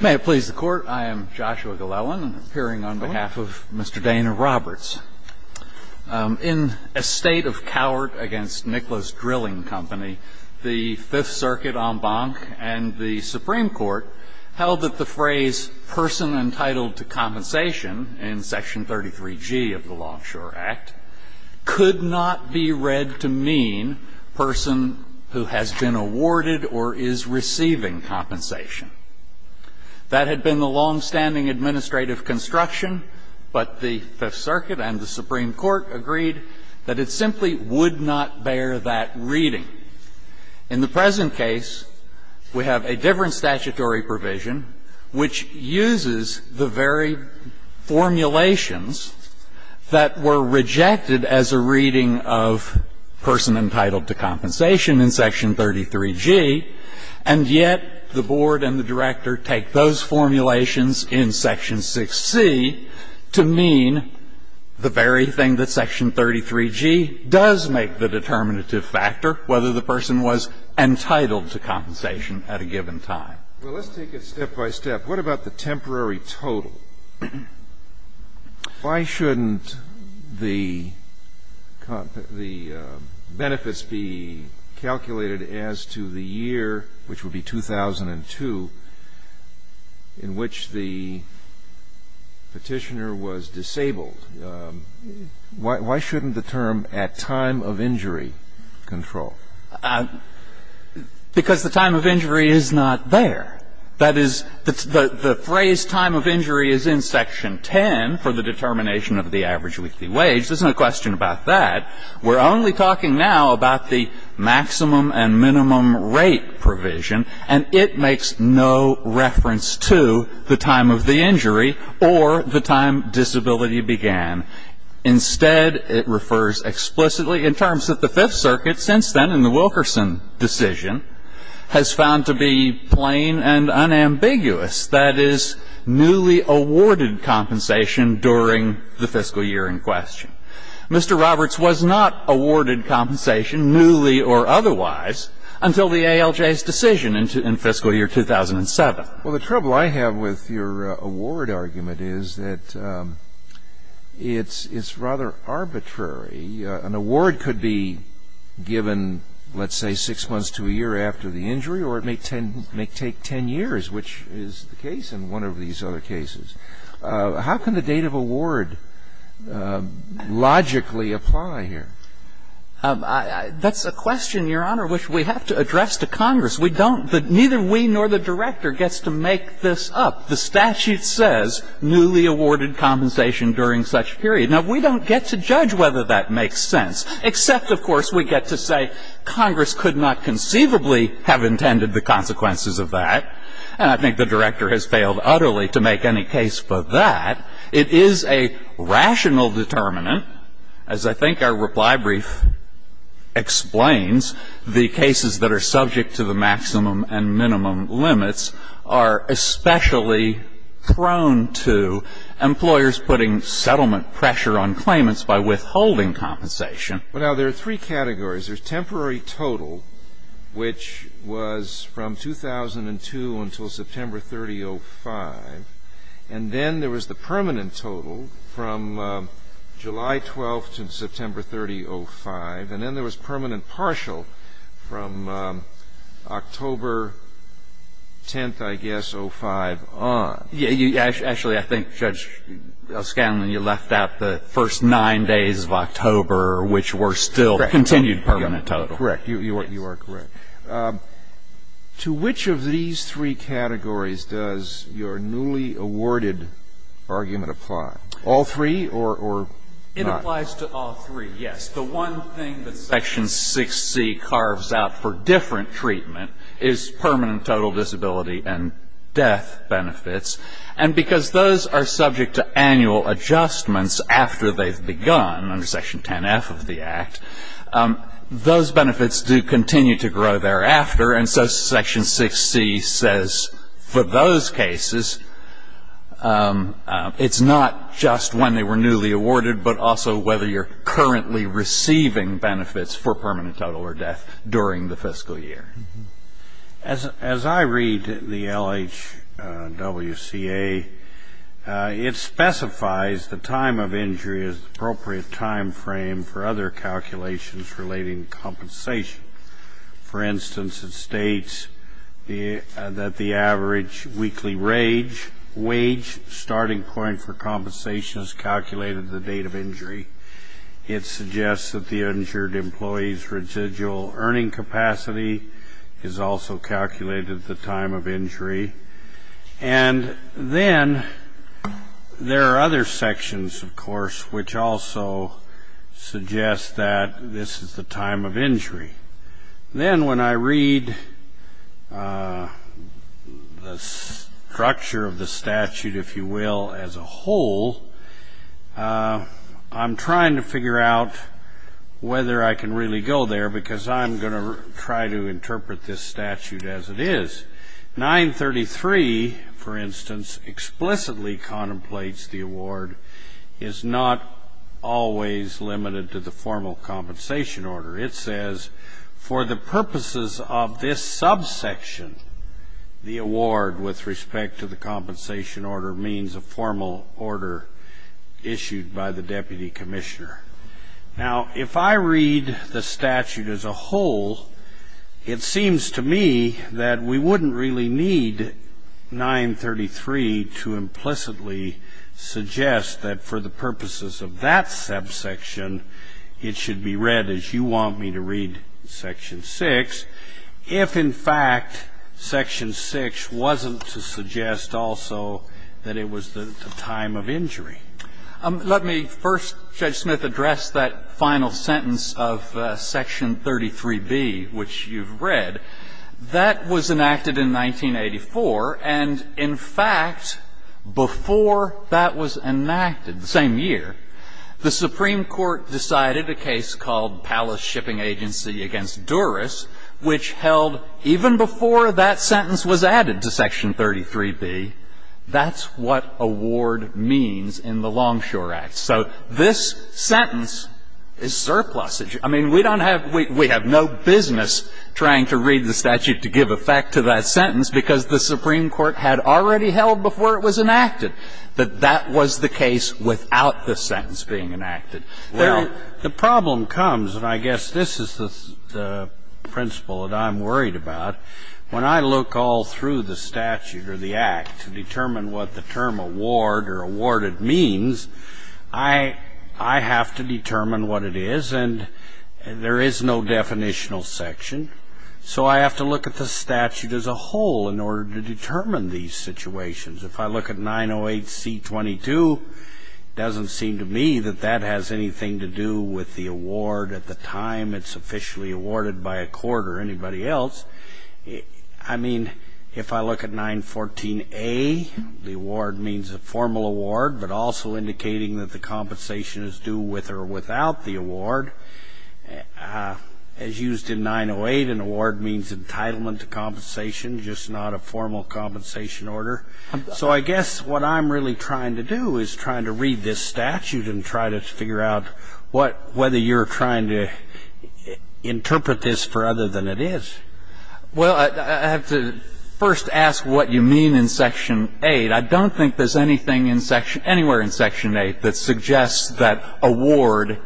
May it please the Court, I am Joshua Glellen, appearing on behalf of Mr. Dana Roberts. In a state of coward against Nicholas Drilling Company, the Fifth Circuit en banc and the Supreme Court held that the phrase, Person entitled to compensation, in Section 33G of the Longshore Act, could not be read to mean person who has been awarded or is receiving compensation. That had been the longstanding administrative construction, but the Fifth Circuit and the Supreme Court agreed that it simply would not bear that reading. In the present case, we have a different statutory provision which uses the very formulations that were rejected as a reading of person entitled to compensation in Section 33G, and yet the board and the director take those formulations in Section 6C to mean the very thing that Section 33G does make the determinative factor, whether the person was entitled to compensation at a given time. Well, let's take it step by step. What about the temporary total? Why shouldn't the benefits be calculated as to the year, which would be 2002, in which the Petitioner was disabled? Why shouldn't the term, at time of injury, control? Because the time of injury is not there. That is, the phrase time of injury is in Section 10 for the determination of the average weekly wage. There's no question about that. We're only talking now about the maximum and minimum rate provision, and it makes no reference to the time of the injury or the time disability began. Instead, it refers explicitly in terms that the Fifth Circuit, since then, in the Wilkerson decision, has found to be plain and unambiguous, that is, newly awarded compensation during the fiscal year in question. Mr. Roberts was not awarded compensation, newly or otherwise, until the ALJ's decision in fiscal year 2007. Well, the trouble I have with your award argument is that it's rather arbitrary. An award could be given, let's say, six months to a year after the injury, or it may take 10 years, which is the case in one of these other cases. How can the date of award logically apply here? That's a question, Your Honor, which we have to address to Congress. We don't. Neither we nor the director gets to make this up. The statute says newly awarded compensation during such period. Now, we don't get to judge whether that makes sense, except, of course, we get to say, Congress could not conceivably have intended the consequences of that, and I think the director has failed utterly to make any case for that. It is a rational determinant. As I think our reply brief explains, the cases that are subject to the maximum and by withholding compensation. Well, now, there are three categories. There's temporary total, which was from 2002 until September 30, 05, and then there was the permanent total from July 12 to September 30, 05, and then there was permanent partial from October 10, I guess, 05 on. Actually, I think, Judge Scanlon, you left out the first nine days of October, which were still continued permanent total. Correct. You are correct. To which of these three categories does your newly awarded argument apply? All three or not? It applies to all three, yes. The one thing that Section 6C carves out for different treatment is permanent total disability and death benefits, and because those are subject to annual adjustments after they've begun under Section 10F of the Act, those benefits do continue to grow thereafter, and so Section 6C says for those cases, it's not just when they were newly awarded, but also whether you're currently receiving benefits for permanent total or death during the fiscal year. As I read the LHWCA, it specifies the time of injury as appropriate time frame for other calculations relating to compensation. For instance, it states that the average weekly wage starting point for compensation is calculated at the date of injury. It suggests that the injured employee's residual earning capacity is also calculated at the time of injury, and then there are other sections, of course, which also suggest that this is the time of injury. Then when I read the structure of the statute, if you will, as a whole, I'm trying to figure out whether I can really go there, because I'm going to try to interpret this statute as it is. 933, for instance, explicitly contemplates the award is not always limited to the formal compensation order. It says for the purposes of this subsection, the award with respect to the compensation order means a formal order issued by the deputy commissioner. Now, if I read the statute as a whole, it seems to me that we wouldn't really need 933 to implicitly suggest that for the purposes of that subsection, it should be read as you want me to read section 6, if in fact section 6 wasn't to suggest also that it was the time of injury. Let me first, Judge Smith, address that final sentence of section 33B, which you've read. That was enacted in 1984, and in fact, before that was enacted, the same year, the Supreme Court decided a case called Palace Shipping Agency v. Duras, which held even before that sentence was added to section 33B, that's what award means in the Longshore Act. So this sentence is surplusage. I mean, we don't have to read the statute to give effect to that sentence, because the Supreme Court had already held before it was enacted that that was the case without the sentence being enacted. The problem comes, and I guess this is the principle that I'm worried about, when I look all through the statute or the Act to determine what the term award or awarded means, I have to determine what it is, and there is no definitional section. So I have to look at the statute as a whole in order to determine these situations. If I look at 908C22, it doesn't seem to me that that has anything to do with the award at the time it's officially awarded by a court or anybody else. I mean, if I look at 914A, the award means a formal award, but also indicating that the entitlement to compensation, just not a formal compensation order. So I guess what I'm really trying to do is trying to read this statute and try to figure out what — whether you're trying to interpret this for other than it is. Well, I have to first ask what you mean in section 8. I don't think there's anything in section — anywhere in section 8 that suggests that award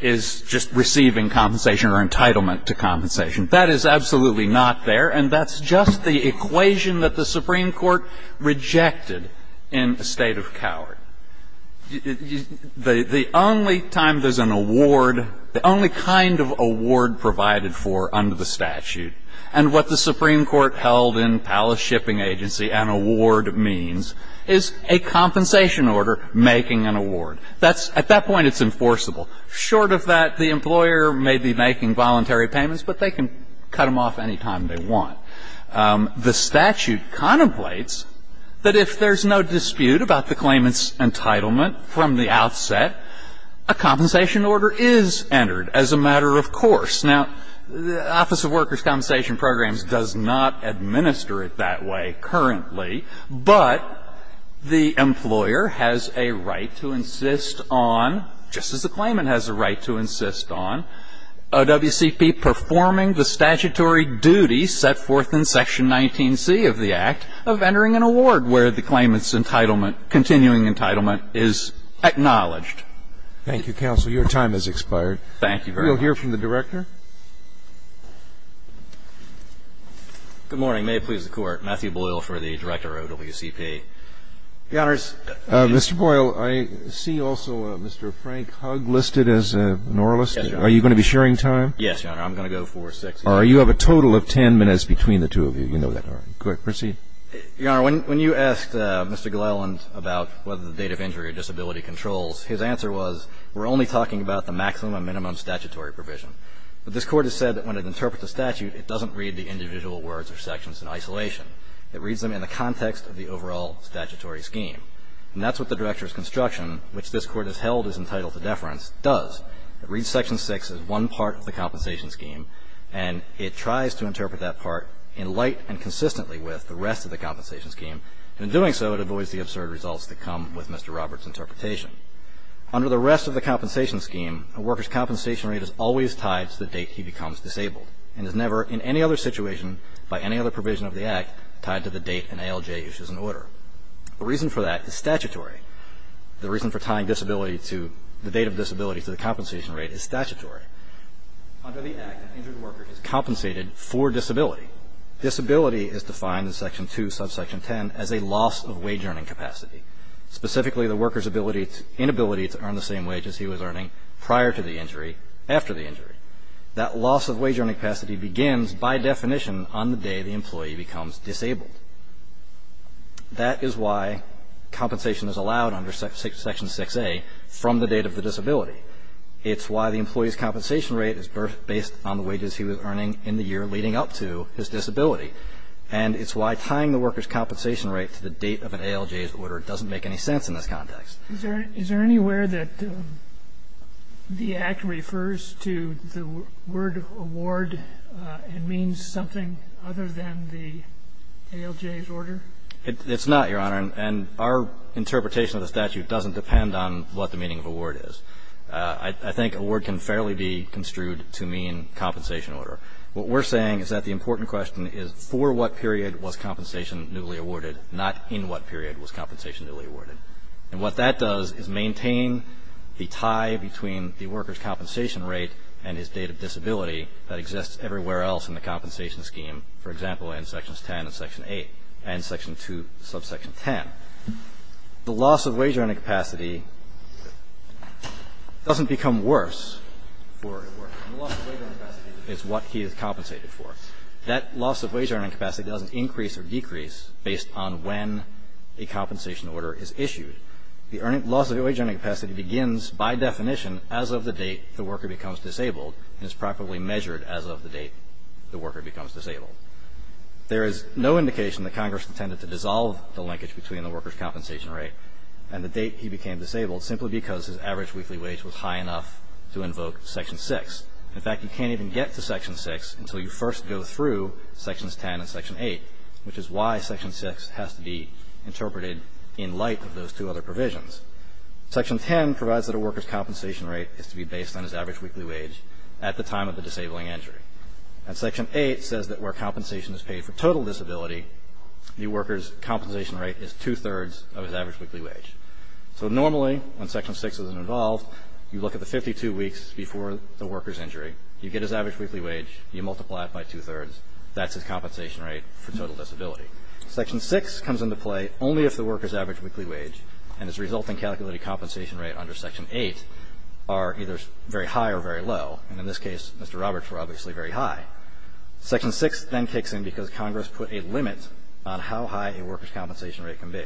is just receiving compensation or entitlement to compensation. That is absolutely not there, and that's just the equation that the Supreme Court rejected in a state of coward. The only time there's an award, the only kind of award provided for under the statute, and what the Supreme Court held in Palace Shipping Agency an award means is a compensation order making an award. That's — at that point, it's enforceable. Short of that, the employer may be making voluntary payments, but they can cut them off any time they want. The statute contemplates that if there's no dispute about the claimant's entitlement from the outset, a compensation order is entered as a matter of course. Now, the Office of Workers' Compensation Programs does not administer it that way currently, but the employer has a right to insist on, just as the claimant has a right to insist on, OWCP performing the statutory duty set forth in section 19C of the Act of entering an award where the claimant's entitlement, continuing entitlement is acknowledged. Thank you, counsel. Your time has expired. Thank you very much. We'll hear from the Director. Good morning. May it please the Court. Matthew Boyle for the Director of OWCP. Your Honors. Mr. Boyle, I see also Mr. Frank Hug listed as an oralist. Yes, Your Honor. Are you going to be sharing time? Yes, Your Honor. I'm going to go for six minutes. All right. You have a total of ten minutes between the two of you. You know that. All right. Go ahead. Proceed. Your Honor, when you asked Mr. Gleiland about whether the date of injury or disability controls, his answer was, we're only talking about the maximum and minimum statutory provision. But this Court has said that when it interprets a statute, it doesn't read the individual words or sections in isolation. It reads them in the context of the overall statutory scheme. And that's what the Director's construction, which this Court has held is entitled to deference, does. It reads section 6 as one part of the compensation scheme, and it tries to interpret that part in light and consistently with the rest of the compensation scheme. In doing so, it avoids the absurd results that come with Mr. Roberts' interpretation. Under the rest of the compensation scheme, a worker's compensation rate is always tied to the date he becomes disabled and is never in any other situation by any other provision of the Act tied to the date an ALJ issues an order. The reason for that is statutory. The reason for tying disability to the date of disability to the compensation rate is statutory. Under the Act, an injured worker is compensated for disability. Disability is defined in section 2, subsection 10, as a loss of wage earning capacity, specifically the worker's inability to earn the same wage as he was earning prior to the injury. That loss of wage earning capacity begins, by definition, on the day the employee becomes disabled. That is why compensation is allowed under section 6A from the date of the disability. It's why the employee's compensation rate is based on the wages he was earning in the year leading up to his disability. And it's why tying the worker's compensation rate to the date of an ALJ's order doesn't make any sense in this context. Is there anywhere that the Act refers to the word award and means something other than the ALJ's order? It's not, Your Honor. And our interpretation of the statute doesn't depend on what the meaning of award is. I think award can fairly be construed to mean compensation order. What we're saying is that the important question is for what period was compensation newly awarded, not in what period was compensation newly awarded. And what that does is maintain the tie between the worker's compensation rate and his date of disability that exists everywhere else in the compensation scheme, for example, in sections 10 and section 8 and section 2, subsection 10. The loss of wage earning capacity doesn't become worse for a worker. The loss of wage earning capacity is what he is compensated for. That loss of wage earning capacity doesn't increase or decrease based on when a compensation rate is issued. The loss of wage earning capacity begins by definition as of the date the worker becomes disabled and is properly measured as of the date the worker becomes disabled. There is no indication that Congress intended to dissolve the linkage between the worker's compensation rate and the date he became disabled simply because his average weekly wage was high enough to invoke section 6. In fact, you can't even get to section 6 until you first go through sections 10 and section 8, which is why section 6 has to be interpreted in light of those two other provisions. Section 10 provides that a worker's compensation rate is to be based on his average weekly wage at the time of the disabling injury. And section 8 says that where compensation is paid for total disability, the worker's compensation rate is two-thirds of his average weekly wage. So normally, when section 6 is involved, you look at the 52 weeks before the worker's injury. You get his average weekly wage. You multiply it by two-thirds. That's his compensation rate for total disability. Section 6 comes into play only if the worker's average weekly wage and its resulting calculated compensation rate under section 8 are either very high or very low. And in this case, Mr. Roberts, we're obviously very high. Section 6 then kicks in because Congress put a limit on how high a worker's compensation rate can be.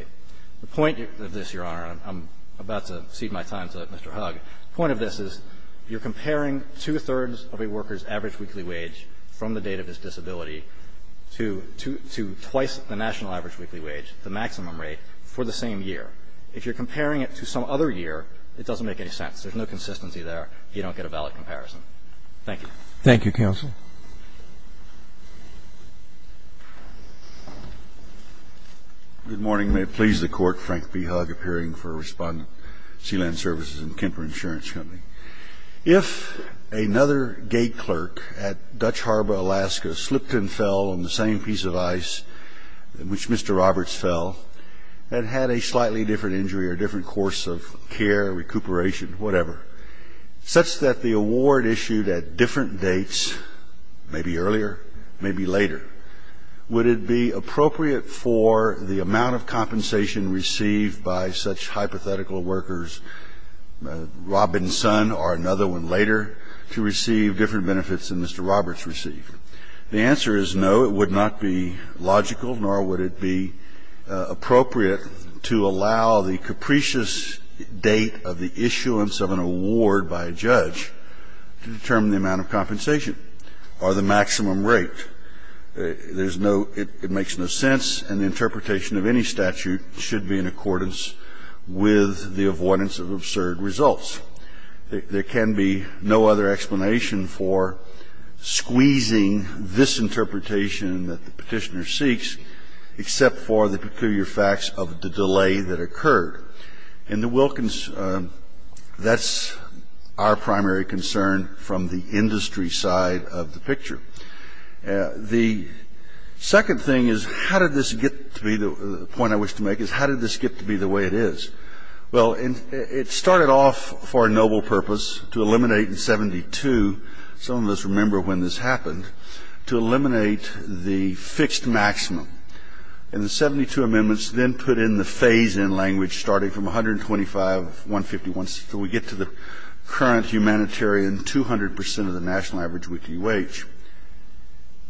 The point of this, Your Honor, and I'm about to cede my time to Mr. Hugg, the point of this is you're comparing two-thirds of a worker's average weekly wage from the date of his disability to twice the national average weekly wage, the maximum rate, for the same year. If you're comparing it to some other year, it doesn't make any sense. There's no consistency there. You don't get a valid comparison. Thank you. Thank you, counsel. Good morning. May it please the Court, Frank B. Hugg, appearing for Respondent, Sealand Services and Kemper Insurance Company. If another gate clerk at Dutch Harbor, Alaska, slipped and fell on the same piece of ice in which Mr. Roberts fell and had a slightly different injury or different course of care, recuperation, whatever, such that the award issued at different dates, maybe earlier, maybe later, would it be appropriate for the amount of compensation received by such hypothetical workers, Robin's son or another one later, to receive different benefits than Mr. Roberts received? The answer is no. It would not be logical, nor would it be appropriate to allow the capricious date of the issuance of an award by a judge to determine the amount of compensation or the maximum rate. There's no ‑‑ it makes no sense, and the interpretation of any statute should be in accordance with the avoidance of absurd results. There can be no other explanation for squeezing this interpretation that the Petitioner seeks except for the peculiar facts of the delay that occurred. And the Wilkins ‑‑ that's our primary concern from the industry side of the picture. The second thing is how did this get to be the ‑‑ the point I wish to make is how did this get to be the way it is? Well, it started off for a noble purpose to eliminate in 72, some of us remember when this happened, to eliminate the fixed maximum. And the 72 amendments then put in the phase‑in language starting from 125, 151, until we get to the current humanitarian 200 percent of the national average weekly wage.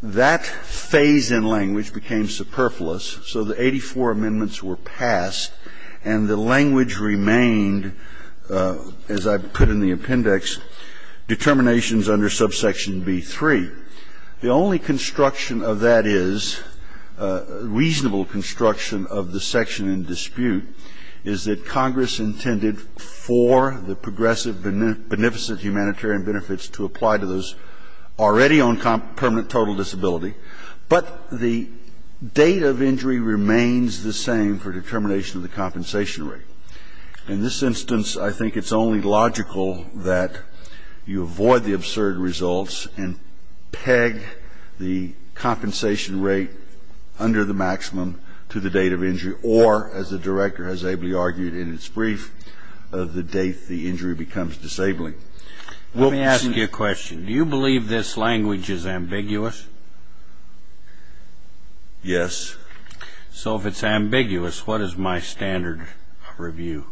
That phase‑in language became superfluous, so the 84 amendments were passed, and the language remained, as I put in the appendix, determinations under subsection B3. The only construction of that is, reasonable construction of the section in dispute, is that Congress intended for the progressive beneficent humanitarian benefits to apply to those already on permanent total disability, but the date of injury remains the same for determination of the compensation rate. In this instance, I think it's only logical that you avoid the absurd results and peg the compensation rate under the maximum to the date of injury, or as the director has ably argued in its brief, of the date the injury becomes disabling. Let me ask you a question. Do you believe this language is ambiguous? Yes. So if it's ambiguous, what is my standard review?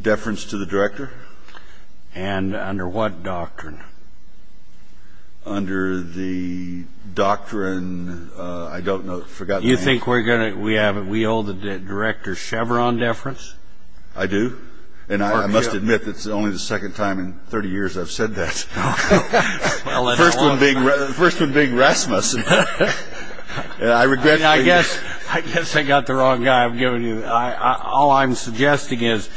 Deference to the director. And under what doctrine? Under the doctrine, I don't know, I forgot the name. You think we owe the director Chevron deference? I do. And I must admit it's only the second time in 30 years I've said that. The first one being Rasmus. I guess I got the wrong guy. All I'm suggesting is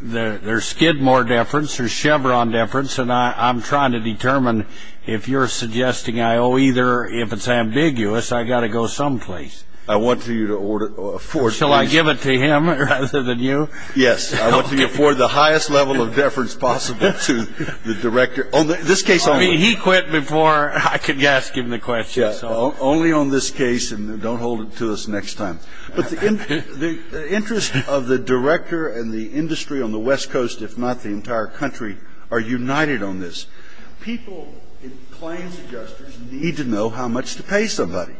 there's Skidmore deference, there's Chevron deference, and I'm trying to determine if you're suggesting I owe either. If it's ambiguous, I've got to go someplace. I want you to afford it. Shall I give it to him rather than you? Yes. I want you to afford the highest level of deference possible to the director. He quit before I could ask him the question. Only on this case, and don't hold it to us next time. But the interest of the director and the industry on the West Coast, if not the entire country, are united on this. People in claims adjusters need to know how much to pay somebody.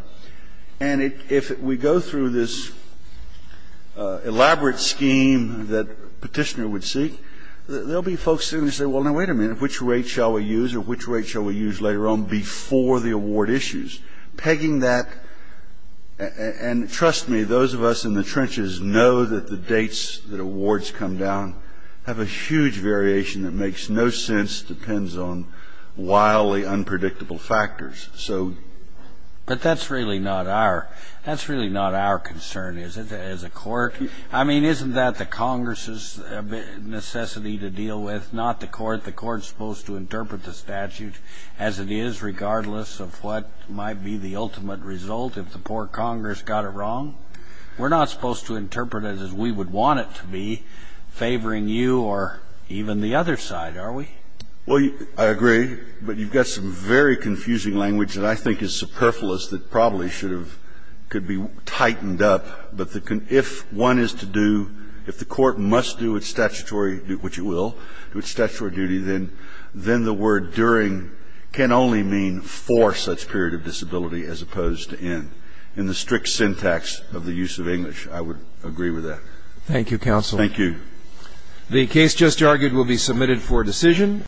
And if we go through this elaborate scheme that Petitioner would seek, there will be folks sitting there saying, well, now, wait a minute, which rate shall we use or which rate shall we use later on before the award issues? Pegging that, and trust me, those of us in the trenches know that the dates that awards come down have a huge variation that makes no sense, depends on wildly unpredictable factors. So. But that's really not our concern, is it, as a court? I mean, isn't that the Congress's necessity to deal with, not the court? I mean, isn't the court supposed to interpret the statute as it is, regardless of what might be the ultimate result if the poor Congress got it wrong? We're not supposed to interpret it as we would want it to be, favoring you or even the other side, are we? Well, I agree, but you've got some very confusing language that I think is superfluous that probably should have been tightened up. But if one is to do, if the court must do its statutory, which it will, do its statutory duty, then the word during can only mean for such period of disability as opposed to in, in the strict syntax of the use of English. I would agree with that. Thank you, counsel. Thank you. The case just argued will be submitted for decision.